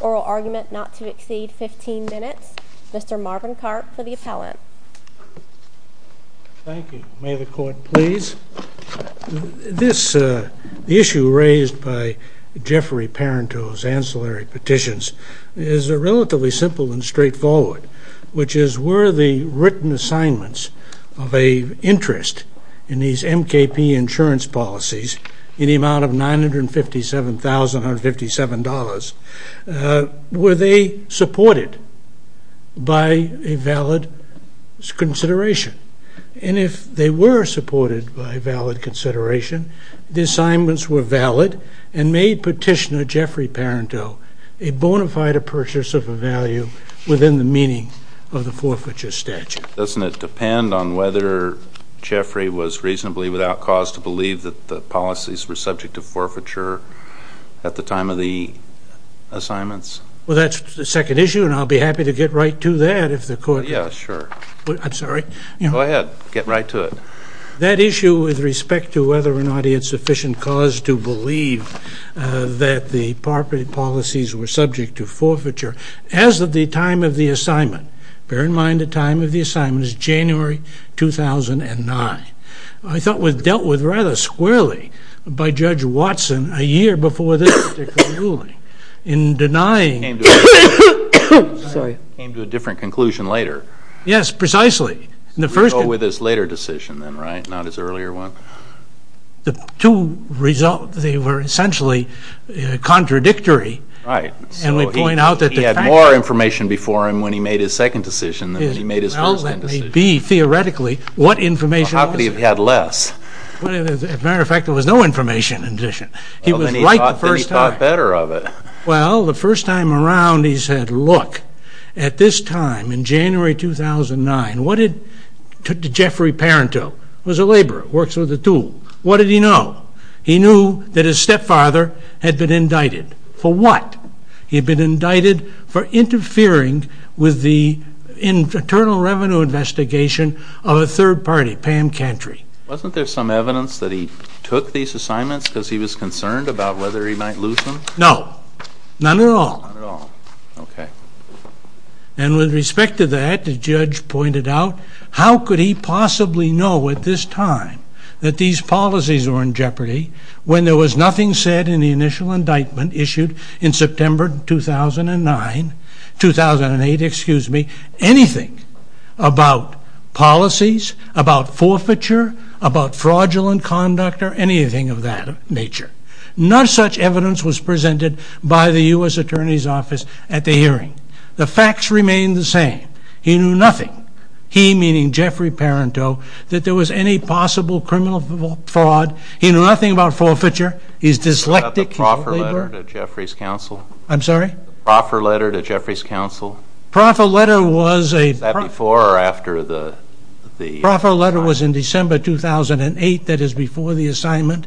Oral argument not to exceed 15 minutes. Mr. Marvin Karp for the appellant. Thank you. May the court please. This, uh, the issue raised by Jeffrey Parenteau's ancillary petitions is a relatively simple and straight forward, which is were the written and the United States of America assignments of a interest in these M.K.P. insurance policies in the amount of $957,157 were they supported by a valid consideration? And if they were supported by a valid consideration the assignments were valid and made petitioner Jeffrey Parenteau a bona fide purchase of a value within the meaning of the forfeiture statute. Doesn't it depend on whether Jeffrey was reasonably without cause to believe that the policies were subject to forfeiture at the time of the assignments? Well, that's the second issue and I'll be happy to get right to that if the court Yeah, sure. I'm sorry. Go ahead. Get right to it. That issue with respect to whether or not he had sufficient cause to believe that the policies were subject to forfeiture as of the time of the assignment. Bear in mind the time of the assignment is January 2009. I thought it was dealt with rather squarely by Judge Watson a year before this particular ruling in denying I came to a different conclusion later. Yes, precisely. We go with his later decision then, right? Not his earlier one. The two results, they were essentially contradictory Right. He had more information before him when he made his second decision than he made his first decision. Well, that may be theoretically. How could he have had less? As a matter of fact, there was no information in addition. He was right the first time. Then he thought better of it. Well, the first time around he said, look, at this time in January 2009, what did Jeffrey Parenteau? He was a laborer. Works with a tool. What did he know? He knew that his stepfather had been indicted. For what? He had been indicted for interfering with the internal revenue investigation of a third party, Pam Cantry. Wasn't there some evidence that he took these assignments because he was concerned about whether he might lose them? No. None at all. None at all. Okay. And with respect to that, the judge pointed out, how could he possibly know at this time that these policies were in jeopardy when there was nothing said in the initial indictment issued in September 2009, 2008, excuse me, anything about policies, about forfeiture, about fraudulent conduct, or anything of that nature. Not such evidence was presented by the U.S. Attorney's Office at the hearing. The facts remained the same. He knew nothing. He, meaning Jeffrey Parenteau, that there was any possible criminal fraud. He knew nothing about forfeiture. He's dyslectic. The proffer letter to Jeffrey's counsel. I'm sorry? The proffer letter to Jeffrey's counsel. The proffer letter was a... Is that before or after the... The proffer letter was in December 2008. That is before the assignment.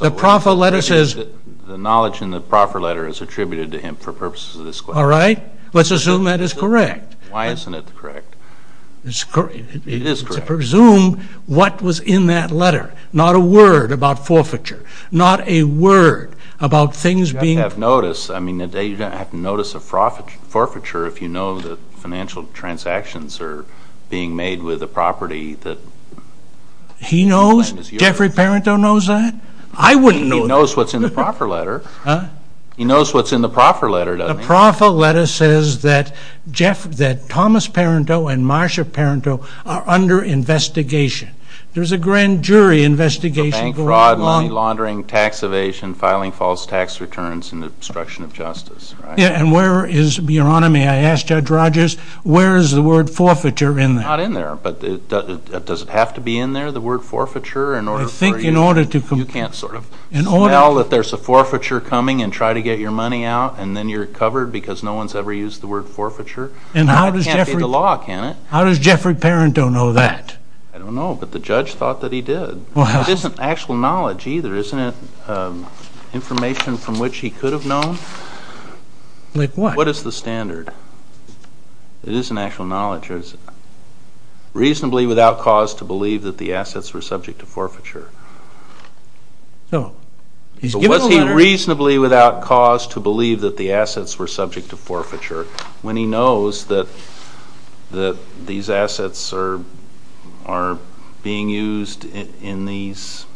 The proffer letter says... The knowledge in the proffer letter is attributed to him for purposes of this question. All right. Let's assume that is correct. Why isn't it correct? It is correct. It's presumed what was in that letter. Not a word about forfeiture. Not a word about things being... You'd have to notice a forfeiture if you know that financial transactions are being made with a property that... He knows? Jeffrey Parenteau knows that? I wouldn't know. He knows what's in the proffer letter. Huh? He knows what's in the proffer letter, doesn't he? The proffer letter says that Thomas Parenteau and Marcia Parenteau are under investigation. There's a grand jury investigation going on... Bank fraud, money laundering, tax evasion, filing false tax returns and obstruction of justice, right? Yeah, and where is... Your Honor, may I ask Judge Rogers, where is the word forfeiture in there? It's not in there, but does it have to be in there, the word forfeiture, in order for you... I think in order to... You can't sort of smell that there's a forfeiture coming and try to get your money out and then you're covered because no one's ever used the word forfeiture. And how does Jeffrey Parenteau know that? I don't know, but the judge thought that he did. It isn't actual knowledge either, isn't it information from which he could have known? Like what? What is the standard? It isn't actual knowledge, is it? Reasonably without cause to believe that the assets were subject to forfeiture. So, he's given a letter... But was he reasonably without cause to believe that the assets were subject to forfeiture when he knows that these assets are being used in these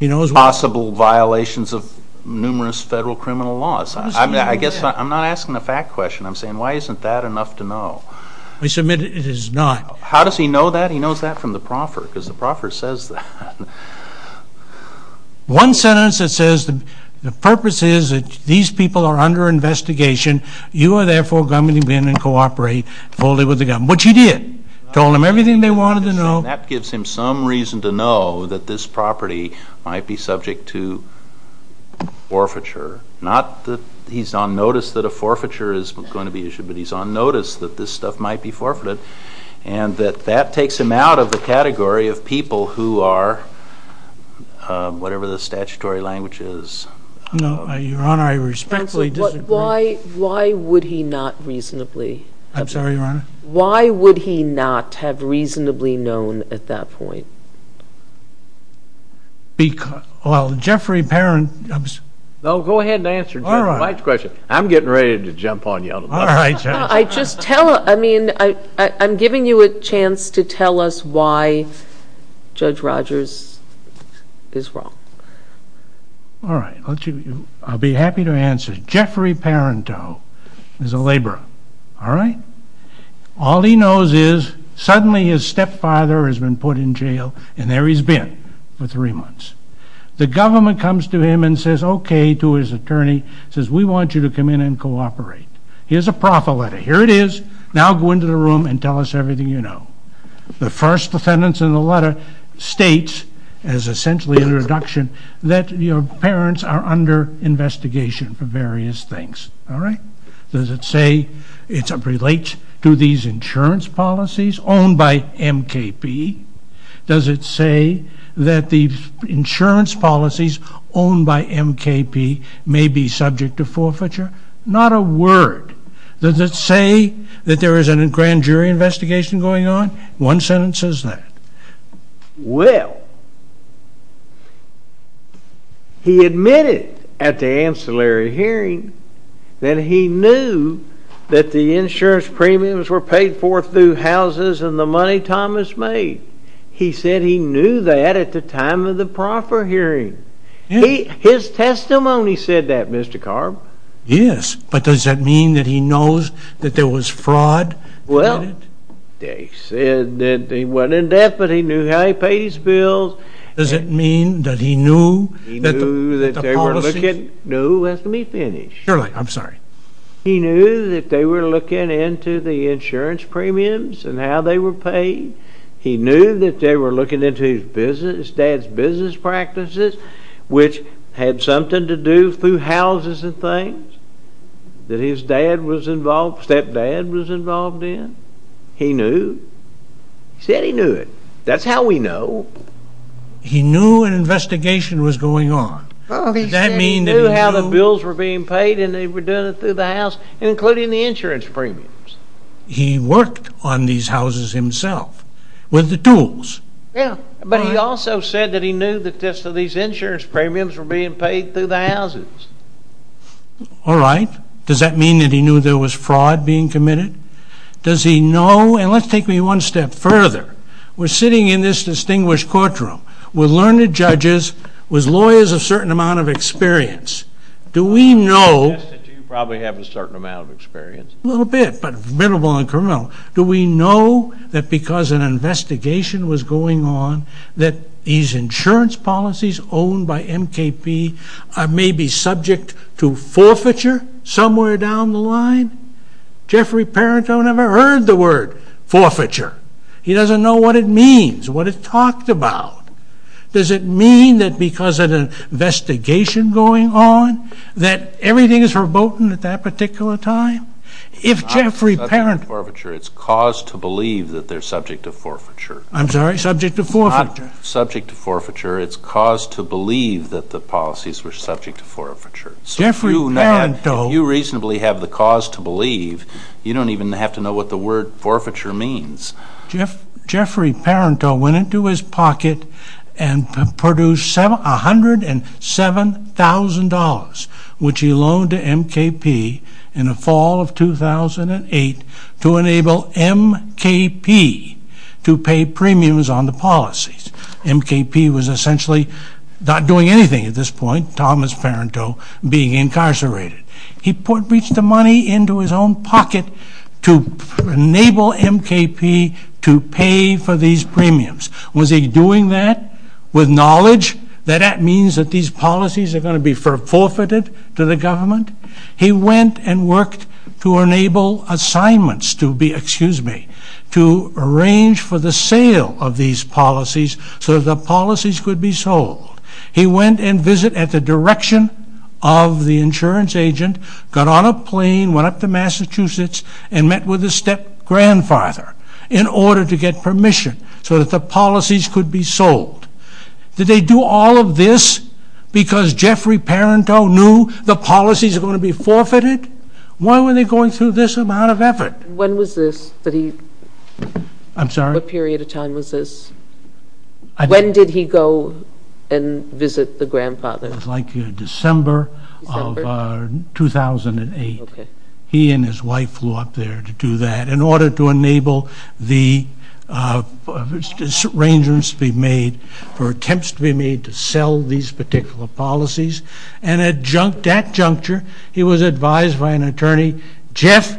possible violations of numerous federal criminal laws? I guess I'm not asking a fact question, I'm saying why isn't that enough to know? I submit it is not. How does he know that? He knows that from the proffer, because the proffer says that. One sentence that says the purpose is that these people are under investigation, you are therefore going to come in and cooperate fully with the government. Which he did. Told them everything they wanted to know. That gives him some reason to know that this property might be subject to forfeiture. Not that he's on notice that a forfeiture is going to be issued, but he's on notice that this stuff might be forfeited. And that that takes him out of the category of people who are, whatever the statutory language is... Your Honor, I respectfully disagree. Why would he not reasonably? I'm sorry, Your Honor? Why would he not have reasonably known at that point? Well, Jeffrey Perrin... No, go ahead and answer Mike's question. I'm getting ready to jump on you. Alright, Judge. I'm giving you a chance to tell us why Judge Rogers is wrong. Alright, I'll be happy to answer. Jeffrey Perrin is a laborer. All he knows is suddenly his stepfather has been put in jail and there he's been for three months. The government comes to him and says okay to his attorney, says we want you to come in and cooperate. Here's a proffer letter. Here it is. Now go into the room and tell us everything you know. The first sentence in the letter states as essentially an introduction that your parents are under investigation for various things. Alright? Does it say it relates to these insurance policies owned by MKP? Does it say that the insurance policies owned by MKP may be subject to forfeiture? Not a word. Does it say that there is a grand jury investigation going on? One sentence says that. Well, he admitted at the ancillary hearing that he knew that the insurance premiums were paid for through houses and the money Thomas made. He said he knew that at the time of the proffer hearing. His testimony said that, Mr. Carb. Yes, but does that mean that he knows that there was fraud? Well, they said that he wasn't in debt, but he knew how he paid his bills. Does it mean that he knew that the policy No, let me finish. Sure, I'm sorry. He knew that they were looking into the insurance premiums and how they were paid. He knew that they were looking into his business, his dad's business practices, which had something to do through houses and things that his dad was involved, stepdad was involved in. He knew. He said he knew it. That's how we know. He knew an investigation was going on. Does that mean that he knew how the bills were being paid and they were doing it through the house, including the insurance premiums? He worked on these houses himself with the tools. But he also said that he knew that these insurance premiums were being paid through the houses. All right. Does that mean that he knew there was fraud being committed? Does he know? And let's take me one step further. We're sitting in this distinguished courtroom with learned judges, with lawyers of certain amount of experience. Do we know... I would suggest that you probably have a certain amount of experience. A little bit, but minimal and criminal. Do we know that because an investigation was going on that these insurance policies owned by MKP may be subject to forfeiture? Jeffrey Parenteau never heard the word forfeiture. He doesn't know what it means, what it's talked about. Does it mean that because of an investigation going on that everything is verboten at that particular time? If Jeffrey Parenteau... It's not subject to forfeiture. It's cause to believe that they're subject to forfeiture. I'm sorry? Subject to forfeiture. It's not subject to forfeiture. It's cause to believe that the policies were subject to forfeiture. So if you reasonably have the cause to believe, you don't even have to know what the word forfeiture means. Jeffrey Parenteau went into his pocket and produced $107,000 which he loaned to MKP in the fall of 2008 to enable MKP to pay premiums on the policies. MKP was essentially not doing anything at this point. Thomas Parenteau being incarcerated. He reached the money into his own pocket to enable MKP to pay for these premiums. Was he doing that with knowledge that that means that these policies are going to be forfeited to the government? He went and worked to enable assignments to be, excuse me, to arrange for the sale of these policies so the policies could be sold. He went and visited at the direction of the insurance agent, got on a plane, went up to Massachusetts and met with his step-grandfather in order to get permission so that the policies could be sold. Did they do all of this because Jeffrey Parenteau knew the policies were going to be forfeited? Why were they going through this amount of effort? When was this that he...I'm sorry? What period of time was this? When did he go and visit the grandfather? It was like December of 2008. He and his wife flew up there to do that in order to enable the arrangements to be made for attempts to be made to sell these particular policies and at that juncture he was advised by an attorney Jeff,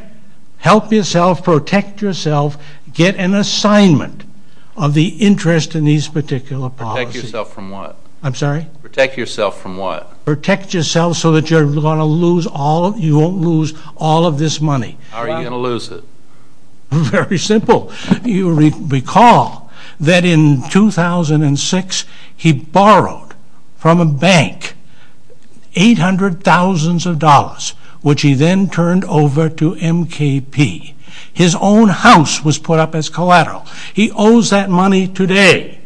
help yourself, protect yourself, get an interest in these particular policies. Protect yourself from what? I'm sorry? Protect yourself from what? Protect yourself so that you're going to lose all, you won't lose all of this money. How are you going to lose it? Very simple. You recall that in 2006 he borrowed from a bank 800,000s of dollars, which he then turned over to MKP. His own house was put up as collateral. He owes that money today.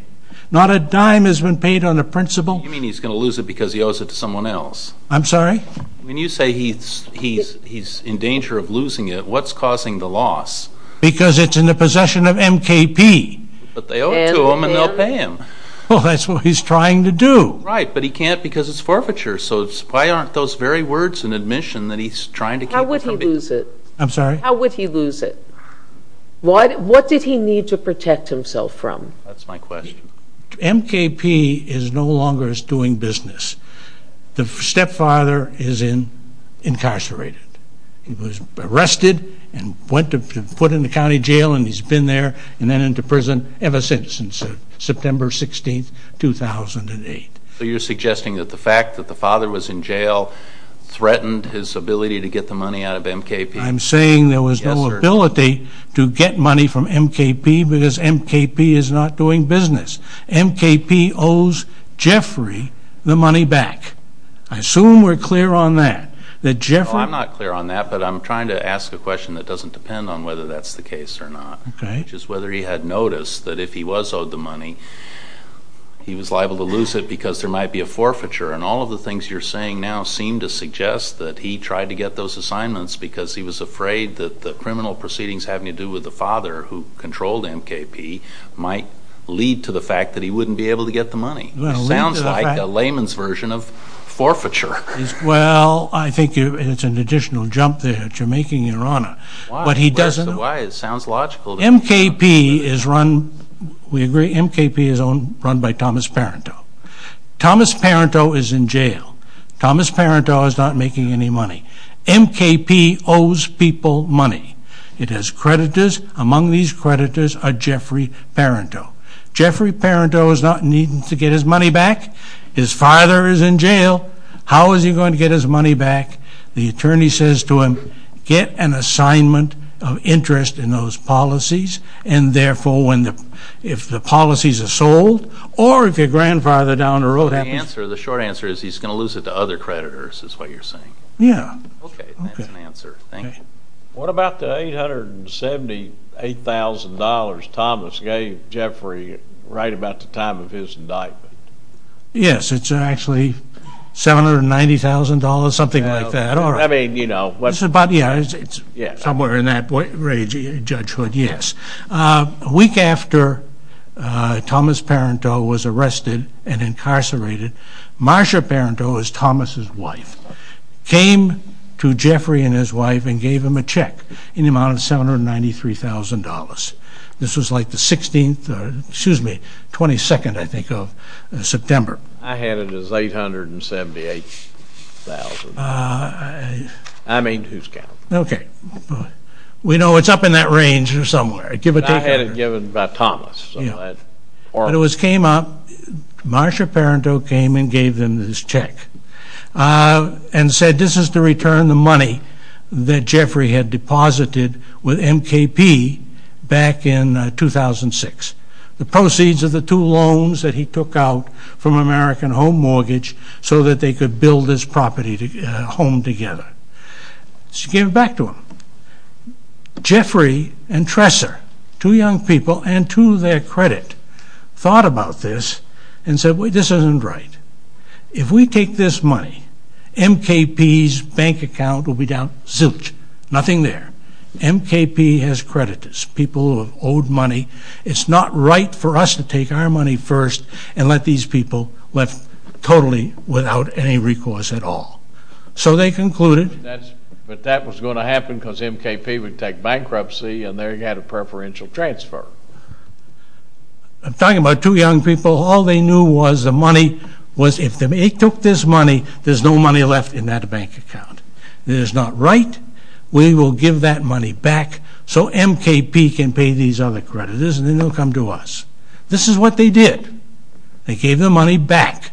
Not a dime has been paid on the principal. You mean he's going to lose it because he owes it to someone else? I'm sorry? When you say he's in danger of losing it, what's causing the loss? Because it's in the possession of MKP. But they owe it to him and they'll pay him. Well, that's what he's trying to do. Right, but he can't because it's forfeiture, so why aren't those very words in admission that he's trying to keep it from being... How would he lose it? I'm sorry? How would he lose it? What did he need to protect himself from? That's my question. MKP is no longer doing business. The stepfather is incarcerated. He was arrested and put in the county jail and he's been there and then into prison ever since, since September 16, 2008. So you're suggesting that the fact that the father was in jail threatened his ability to get the money out of MKP? I'm saying there was no ability to get money from MKP because MKP is not doing business. MKP owes Jeffrey the money back. I assume we're clear on that. I'm not clear on that, but I'm trying to ask a question that doesn't depend on whether that's the case or not, which is whether he had noticed that if he was owed the money, he was liable to lose it because there might be a forfeiture. And all of the things you're saying now seem to suggest that he tried to get those assignments because he was afraid that the criminal proceedings having to do with the father who controlled MKP might lead to the fact that he wouldn't be able to get the money. It sounds like a layman's version of forfeiture. Well, I think it's an additional jump there that you're making, Your Honor. Why? It sounds logical. MKP is run, we agree, MKP is run by Thomas Parenteau. Thomas Parenteau is in jail. Thomas Parenteau is not making any money. MKP owes people money. It has creditors. Among these creditors are Jeffrey Parenteau. Jeffrey Parenteau is not needing to get his money back. His father is in jail. How is he going to get his money back? The attorney says to him, get an assignment of interest in those policies, and therefore if the policies are sold, or if your grandfather down the road happens... The short answer is he's going to lose it to other creditors, is what you're saying. What about the $878,000 Thomas gave Jeffrey right about the time of his indictment? Yes, it's actually $790,000, something like that. It's somewhere in that wage judgehood, yes. A week after Thomas Parenteau was arrested and incarcerated, Marsha Parenteau is Thomas' wife, came to Jeffrey and his wife and gave him a check in the amount of $793,000. This was like the 16th, excuse me, 22nd, I think, of September. I had it as $878,000. I mean, who's counting? Okay. We know it's up in that range or somewhere. I had it given by Thomas. When it came up, Marsha Parenteau came and gave them this check and said this is to return the money that Jeffrey had deposited with MKP back in 2006. The proceeds of the two loans that he took out from American Home Mortgage so that they could build this property home together. She gave it back to him. Jeffrey and Tresser, two young people, and to their credit, thought about this and said, wait, this isn't right. If we take this money, MKP's bank account will be down zilch. Nothing there. MKP has creditors, people who have owed money. It's not right for us to take our money first and let these people live totally without any recourse at all. So they concluded... But that was going to happen because MKP would take bankruptcy and they had a preferential transfer. I'm talking about two young people. All they knew was the money was if they took this money, there's no money left in that bank account. It is not right. We will give that money back so MKP can pay these other creditors and then they'll come to us. This is what they did. They gave the money back.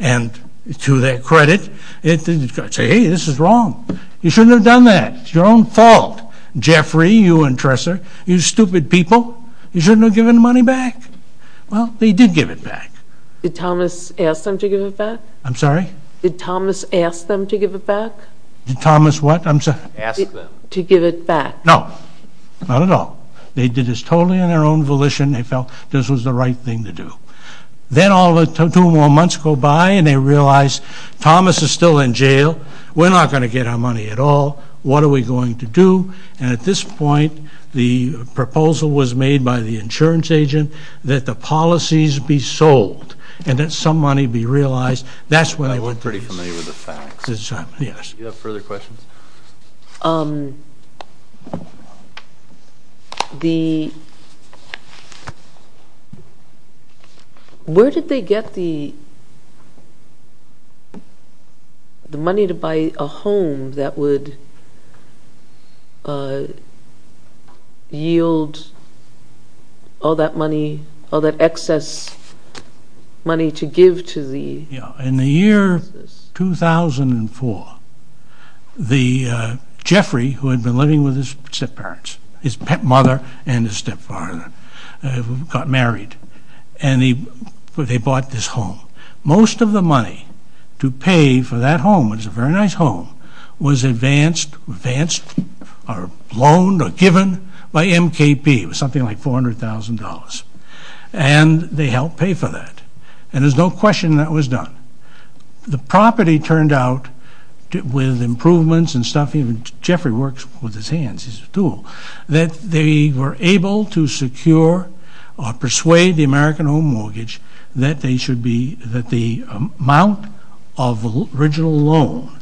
And to their credit, they said, hey, this is wrong. You shouldn't have done that. It's your own fault. Jeffrey, you and Tresser, you stupid people. You shouldn't have given the money back. Well, they did give it back. Did Thomas ask them to give it back? I'm sorry? Did Thomas ask them to give it back? Did Thomas what? Ask them. To give it back. No. Not at all. They did this totally in their own volition. They felt this was the right thing to do. Then two more months go by and they realize Thomas is still in jail. We're not going to get our money at all. What are we going to do? And at this point, the proposal was made by the insurance agent that the policies be sold and that some money be realized. I'm pretty familiar with the facts. Do you have further questions? The... Where did they get the money to buy a home that would yield all that money, all that excess money to give to the... In the year 2004, Jeffrey, who had been living with his step parents, his mother and his step father, got married. And they bought this home. Most of the money to pay for that home, it was a very nice home, was advanced or loaned or given by MKP. It was something like $400,000. And they helped pay for that. And there's no question that was done. The property turned out, with improvements and stuff, even Jeffrey works with his hands, he's a tool, that they were able to persuade the American Home Mortgage that they should be...that the amount of original loan,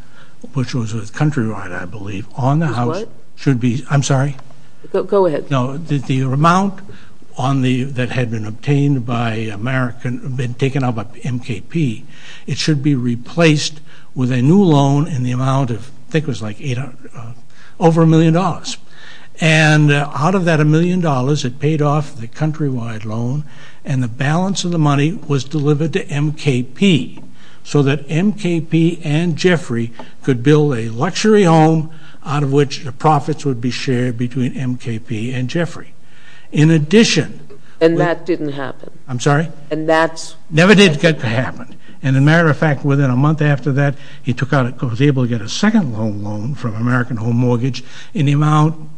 which was with Countrywide, I believe, on the house should be...I'm sorry? Go ahead. The amount that had been obtained by American...been taken out by MKP, it should be replaced with a new loan in the amount of...I think it was like over a million dollars. And out of that a million dollars, it paid off the Countrywide loan, and the balance of the money was delivered to MKP, so that MKP and Jeffrey could build a luxury home out of which the profits would be shared between MKP and Jeffrey. In addition... And that didn't happen. I'm sorry? And that's...never did get to happen. And a matter of fact, within a month after that, he took out...he was able to get a second loan from American Home Mortgage in the amount...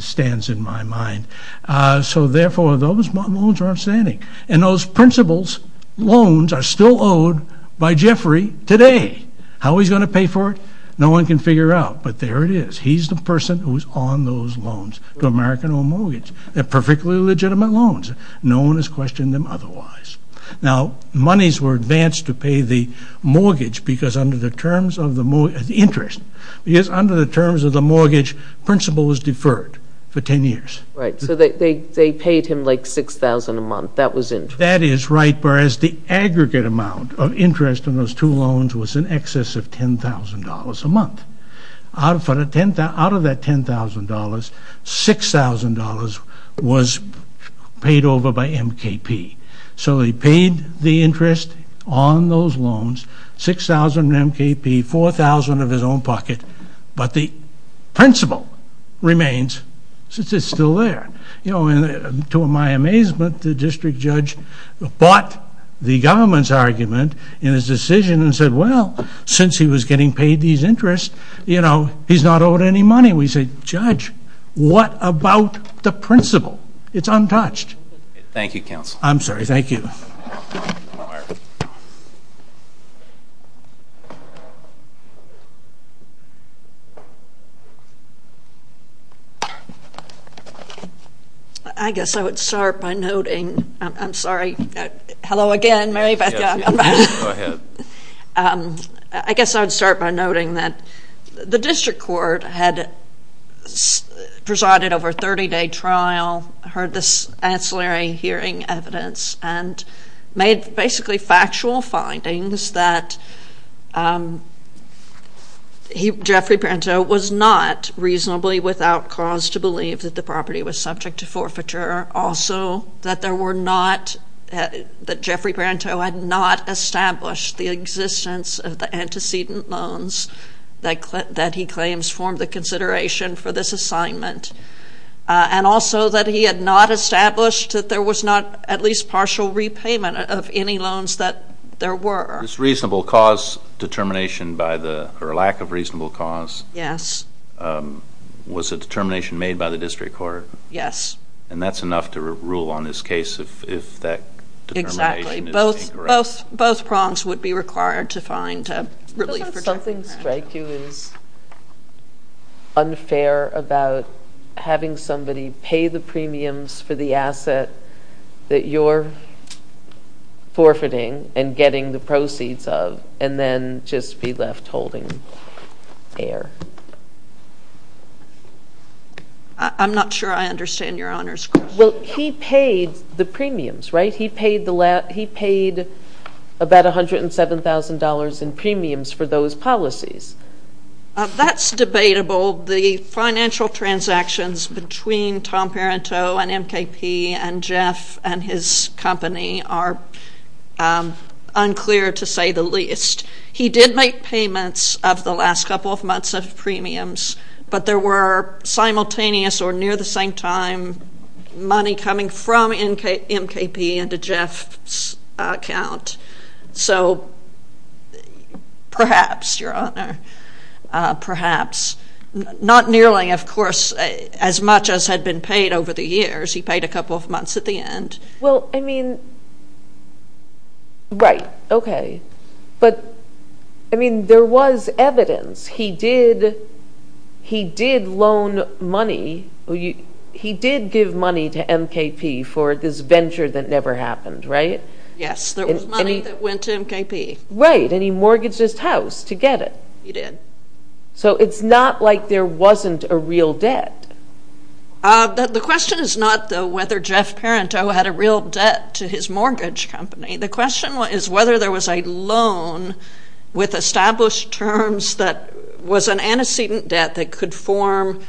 stands in my mind. So therefore, those loans are outstanding. And those principal's loans are still owed by Jeffrey today. How he's going to pay for it? No one can figure out, but there it is. He's the person who's on those loans to American Home Mortgage. They're perfectly legitimate loans. No one has questioned them otherwise. Now, monies were advanced to pay the mortgage because under the terms of the...interest. Because under the mortgage, principal was deferred for 10 years. Right. So they paid him like $6,000 a month. That was interest. That is right, whereas the aggregate amount of interest on those two loans was in excess of $10,000 a month. Out of that $10,000, $6,000 was paid over by MKP. So he paid the interest on those loans, $6,000 to MKP, $4,000 of his own pocket. But the principal remains since it's still there. You know, to my amazement, the district judge bought the government's argument in his decision and said, well, since he was getting paid these interests, you know, he's not owed any money. We said, judge, what about the principal? It's untouched. Thank you, counsel. I'm sorry, thank you. I guess I would start by noting...I'm sorry. Hello again, Mary Beth. Go ahead. I guess I would start by noting that the district court had presided over a 30-day trial, heard this ancillary hearing evidence, and made basically factual findings that Jeffrey Parenteau was not reasonably without cause to believe that the property was subject to forfeiture. Also, that there were not that Jeffrey Parenteau had not established the existence of the antecedent loans that he claims formed the consideration for this assignment. And also that he had not established that there was not at least partial repayment of any loans that there were. This reasonable cause determination by the, or lack of reasonable cause, was a determination made by the district court? Yes. And that's enough to rule on this case if that determination is incorrect? Exactly. Both prongs would be required to find relief for Jeffrey Parenteau. Something strike you as unfair about having somebody pay the premiums for the asset that you're forfeiting and getting the proceeds of, and then just be left holding air? I'm not sure I understand your Honor's question. Well, he paid the premiums, right? He paid about $107,000 in premiums for those policies. That's debatable. The financial transactions between Tom Parenteau and MKP and Jeff and his company are unclear to say the least. He did make payments of the last couple of months of premiums, but there were simultaneous or near the same time money coming from MKP into Jeff's account. So, perhaps Your Honor, perhaps. Not nearly, of course, he had been paid over the years. He paid a couple of months at the end. Well, I mean, right, okay. But, I mean, there was evidence. He did loan money. He did give money to MKP for this venture that never happened, right? Yes, there was money that went to MKP. Right, and he mortgaged his house to get it. He did. So, it's not like there wasn't a real debt. The question is not whether Jeff Parenteau had a real debt to his mortgage company. The question is whether there was a loan with established terms that was an antecedent debt that could form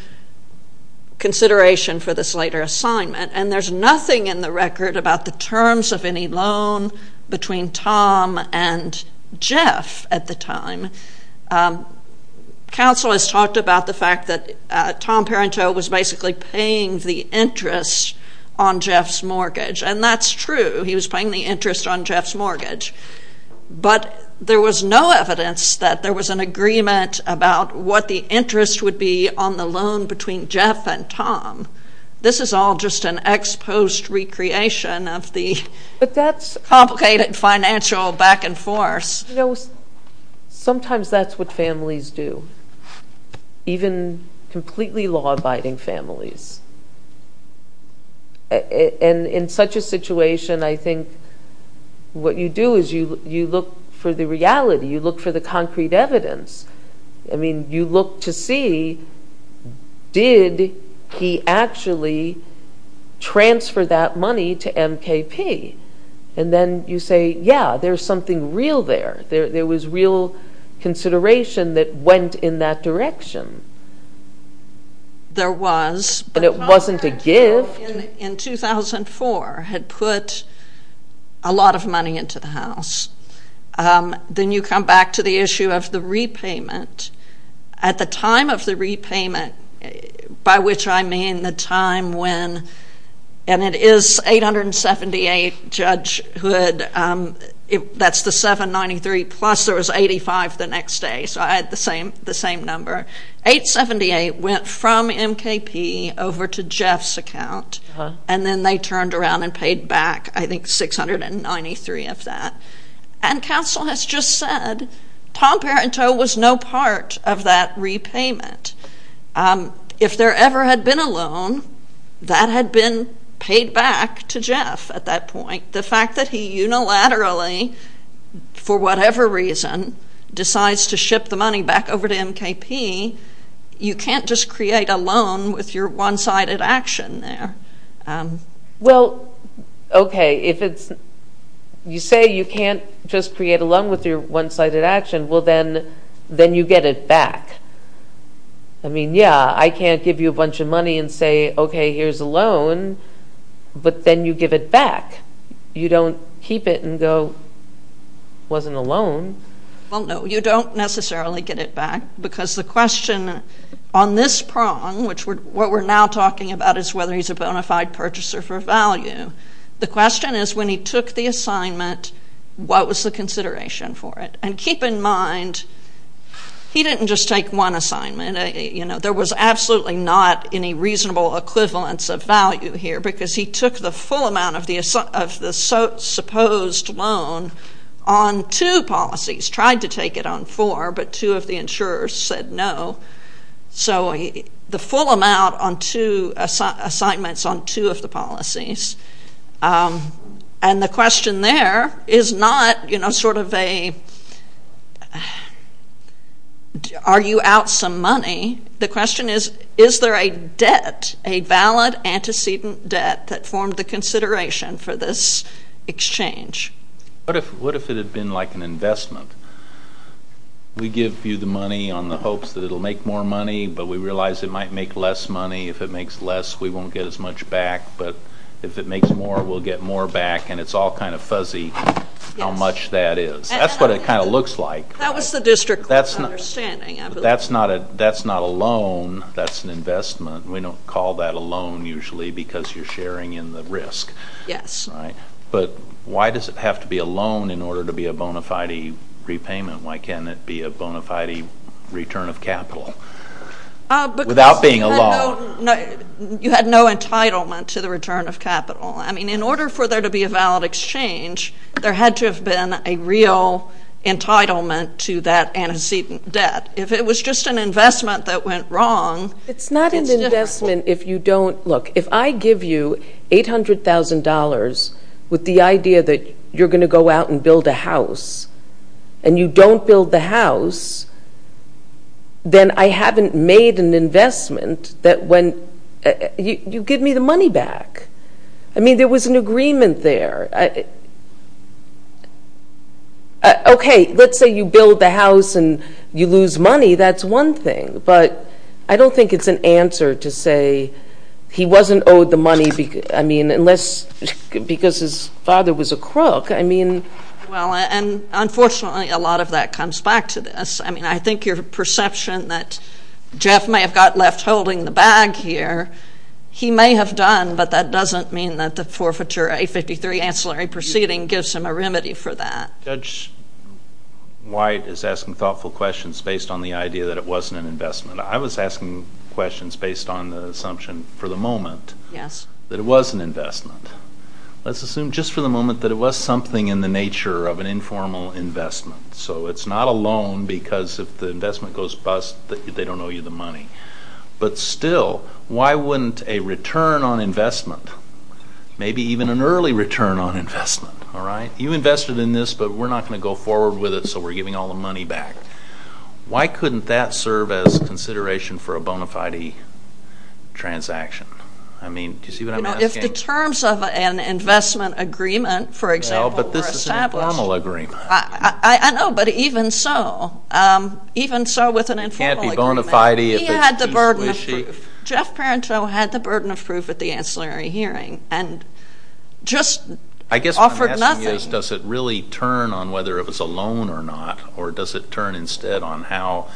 consideration for this later assignment, and there's nothing in the record about the terms of any loan between Tom and Jeff at the time. Counsel has talked about the fact that Tom Parenteau was basically paying the interest on Jeff's mortgage, and that's true. He was paying the interest on Jeff's mortgage. But, there was no evidence that there was an agreement about what the interest would be on the loan between Jeff and Tom. This is all just an ex post recreation of the complicated financial back and forth. You know, sometimes that's what families do. Even completely law-abiding families. In such a situation, I think what you do is you look for the reality. You look for the concrete evidence. I mean, you look to see did he actually transfer that money to MKP? And then you say, yeah, there's something real there. There was real consideration that went in that direction. There was, but Tom Parenteau in 2004 had put a lot of money into the house. Then you come back to the issue of the repayment. At the time of the repayment, by which I mean the time when, and it is 878 Judge Hood, that's the 793 plus there was 85 the next day. So I had the same number. 878 went from MKP over to Jeff's account. And then they turned around and paid back, I think, 693 of that. And counsel has just said, Tom Parenteau was no part of that repayment. If there ever had been a loan, that had been paid back to Jeff at that point. The fact that he unilaterally for whatever reason decides to ship the money back over to MKP, you can't just create a loan with your one-sided action there. Well, okay, if you say you can't just create a loan with your one-sided action, well then you get it back. I mean, yeah, I can't give you a bunch of money and say, okay here's a loan, but then you give it back. You don't keep it and go, wasn't a loan. Well, no, you don't necessarily get it back because the question on this prong, which what we're now talking about is whether he's a bona fide purchaser for value. The question is when he took the assignment what was the consideration for it? And keep in mind he didn't just take one assignment. There was absolutely not any reasonable equivalence of value here because he took the full amount of the supposed loan on two policies. Tried to take it on four, but two of the insurers said no. So the full amount on two assignments on two of the policies. And the question there is not, you know, sort of a argue out some money. The question is, is there a debt, a valid antecedent debt that formed the consideration for this exchange? What if it had been like an investment? We give you the money on the hopes that it'll make more money, but we realize it might make less money. If it makes less, we won't get as much back, but if it makes more, we'll get more back and it's all kind of fuzzy how much that is. That's what it kind of looks like. That was the district court's understanding. That's not a loan. That's an investment. We don't call that a loan usually because you're sharing in the risk. Yes. But why does it have to be a loan in order to be a bona fide repayment? Why can't it be a bona fide return of capital without being a loan? You had no entitlement to the return of capital. I mean, in order for there to be a valid exchange, there had to have been a real entitlement to that antecedent debt. If it was just an investment that went wrong... It's not an investment if you don't... Look, if I give you $800,000 with the idea that you're going to go out and build a house and you don't build the house, then I haven't made an investment that when... You give me the money back. I mean, there was an agreement there. Okay, let's say you build the house and you lose money. That's one thing, but I don't think it's an answer to say he wasn't owed the money because his father was a crook. Well, and unfortunately a lot of that comes back to this. I mean, I think your perception that Jeff may have got left holding the bag here, he may have done, but that doesn't mean that the forfeiture A53 ancillary proceeding gives him a remedy for that. Judge White is asking thoughtful questions based on the idea that it wasn't an investment. I was asking questions based on the assumption for the moment that it was an investment. Let's assume just for the moment that it was something in the nature of an informal investment. So it's not a loan because if the investment goes bust, they don't owe you the money. But still, why wouldn't a return on investment, maybe even an early return on investment, you invested in this, but we're not going to go forward with it so we're giving all the money back. Why couldn't that serve as consideration for a bona fide transaction? I mean, do you see what I'm asking? If the terms of an investment agreement, for example, were established I know, but even so, even so with an informal agreement, he had the burden of proof. at the ancillary hearing and just offered nothing. I guess what I'm asking is does it really turn on whether it was a loan or not or does it turn instead on how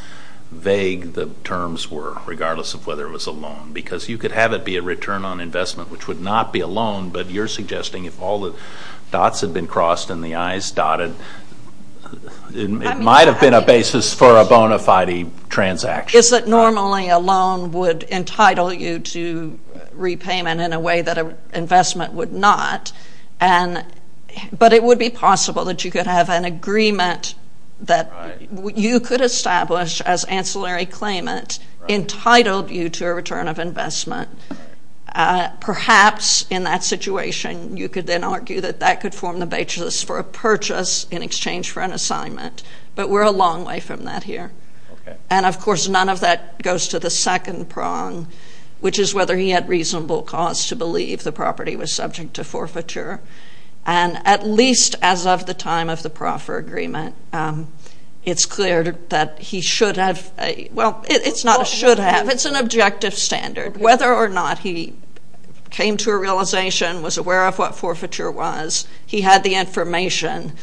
vague the terms were regardless of whether it was a loan? Because you could have it be a return on investment which would not be a loan, but you're suggesting if all the dots had been crossed and the I's dotted, it might have been a basis for a bona fide transaction. Is it normally a loan would entitle you to repayment in a way that an investment would not, but it would be possible that you could have an agreement that you could establish as ancillary claimant entitled you to a return of investment. Perhaps in that situation, you could then argue that that could form the basis for a purchase in exchange for an assignment, but we're a long way from that here. And of course, none of that goes to the second prong, which is whether he had reasonable cause to believe the property was subject to forfeiture. And at least as of the time of the proffer agreement, it's clear that he should have, well, it's not should have, it's an objective standard. Whether or not he came to a realization and was aware of what forfeiture was, he had the information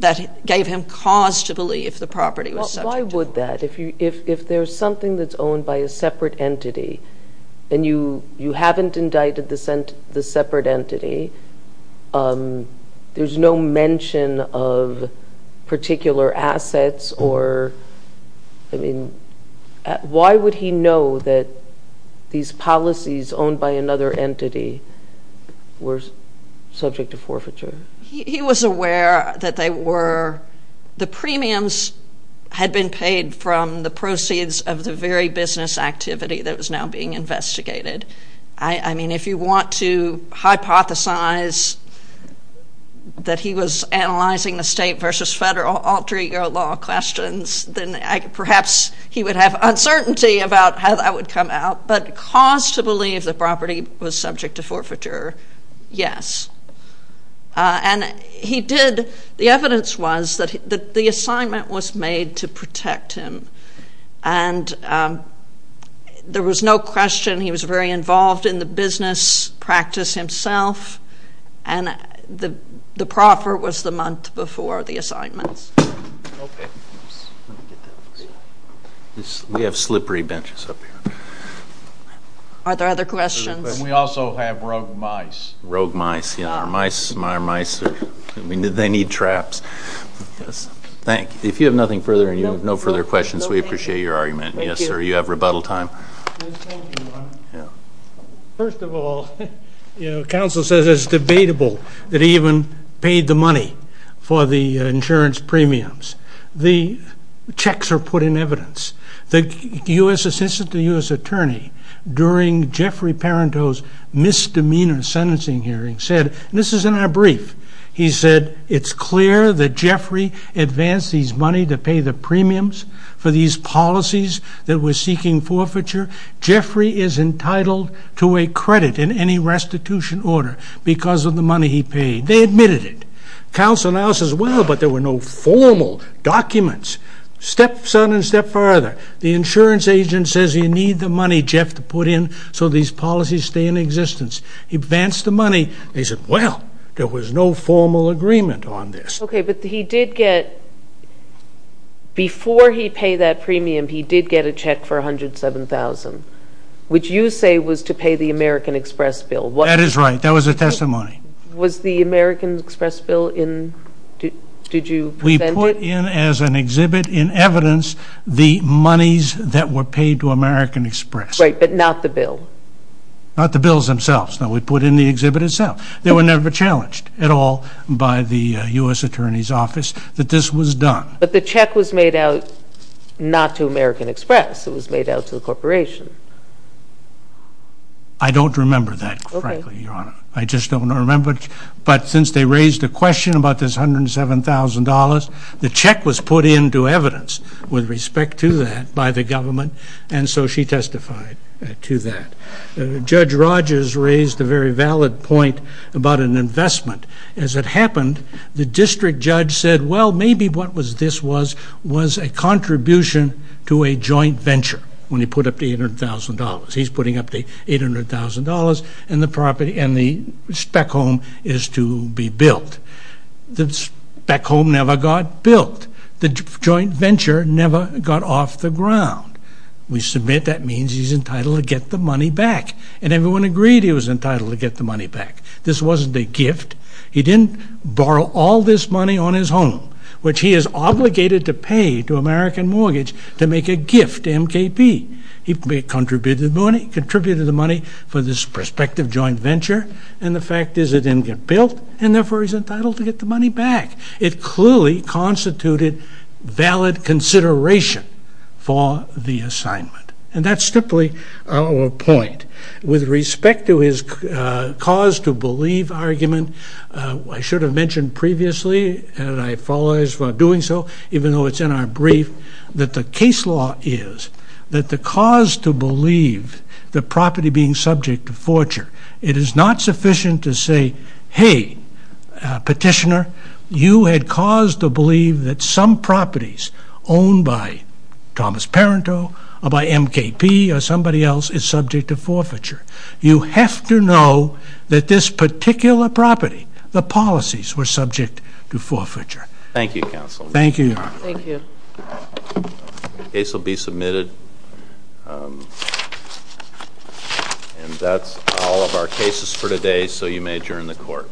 that gave him cause to believe the property was subject to forfeiture. Why would that? If there's something that's owned by a separate entity and you haven't indicted the separate entity, there's no mention of particular assets or, I mean, why would he know that these policies owned by another entity were subject to forfeiture? He was aware that they were, the premiums had been paid from the proceeds of the very business activity that was now being investigated. I mean, if you want to hypothesize that he was analyzing the state versus federal alter ego law questions, then perhaps he would have uncertainty about how that would come out. But cause to believe the property was subject to forfeiture, yes. And he did, the evidence was that the assignment was made to protect him and there was no question he was very involved in the business practice himself and the proffer was the month before the assignments. We have slippery benches up here. Are there other questions? We also have rogue mice. Rogue mice. Thank you. If you have nothing further and you have no further questions, we appreciate your argument. Yes sir, you have rebuttal time. First of all, you know, counsel says it's debatable that he even paid the money for the insurance premiums. The checks are put in evidence. The U.S. assistant to the U.S. attorney during Jeffrey Parenteau's misdemeanor sentencing hearing said, and this is in our brief, he said it's clear that Jeffrey advanced these money to pay the premiums for these policies that were seeking forfeiture. Jeffrey is entitled to a credit in any restitution order because of the money he paid. They admitted it. Counsel now says, well, but there were no formal documents. Step son and step father, the insurance agent says you need the money, Jeff, to put in so these policies stay in existence. He advanced the money. They said, well, there was no formal agreement on this. Okay, but he did get before he paid that premium, he did get a check for $107,000, which you say was to pay the American Express bill. That is right. That was a testimony. Was the American Express bill in? Did you present it? We put in as an exhibit in evidence the monies that were paid to American Express. Right, but not the bill. Not the bills themselves. No, we put in the exhibit itself. They were never challenged at all by the U.S. Attorney's Office that this was done. But the check was made out not to American Express. It was made out to the corporation. I don't remember that, frankly, Your Honor. I just don't remember it, but since they raised the question about this $107,000 the check was put into evidence with respect to that by the government, and so she testified to that. Judge Rogers raised a very valid point about an investment. As it happened, the district judge said, well, maybe what this was was a contribution to a joint venture when he put up the $800,000. He's putting up the $800,000 and the spec home is to be built. The spec home never got built. The joint venture never got off the ground. We submit that means he's entitled to get the money back, and everyone agreed he was entitled to get the money back. This wasn't a gift. He didn't borrow all this money on his home, which he is obligated to pay to American Mortgage to make a gift to MKP. He contributed the money for this prospective joint venture, and the fact is it didn't get built, and therefore he's entitled to get the money back. It clearly constituted valid consideration for the assignment, and that's simply our point. With respect to his cause to believe argument, I should have mentioned previously, and I apologize for doing so, even though it's in our brief, that the case law is that the cause to believe the property being subject to forture, it is not sufficient to say, hey, petitioner, you had cause to believe that some properties owned by Thomas Parenteau, or by MKP, or somebody else is subject to forfeiture. You have to know that this particular property, the policies were subject to forfeiture. Thank you, counsel. Thank you. Thank you. The case will be submitted, and that's all of our cases for today, so you may adjourn the court.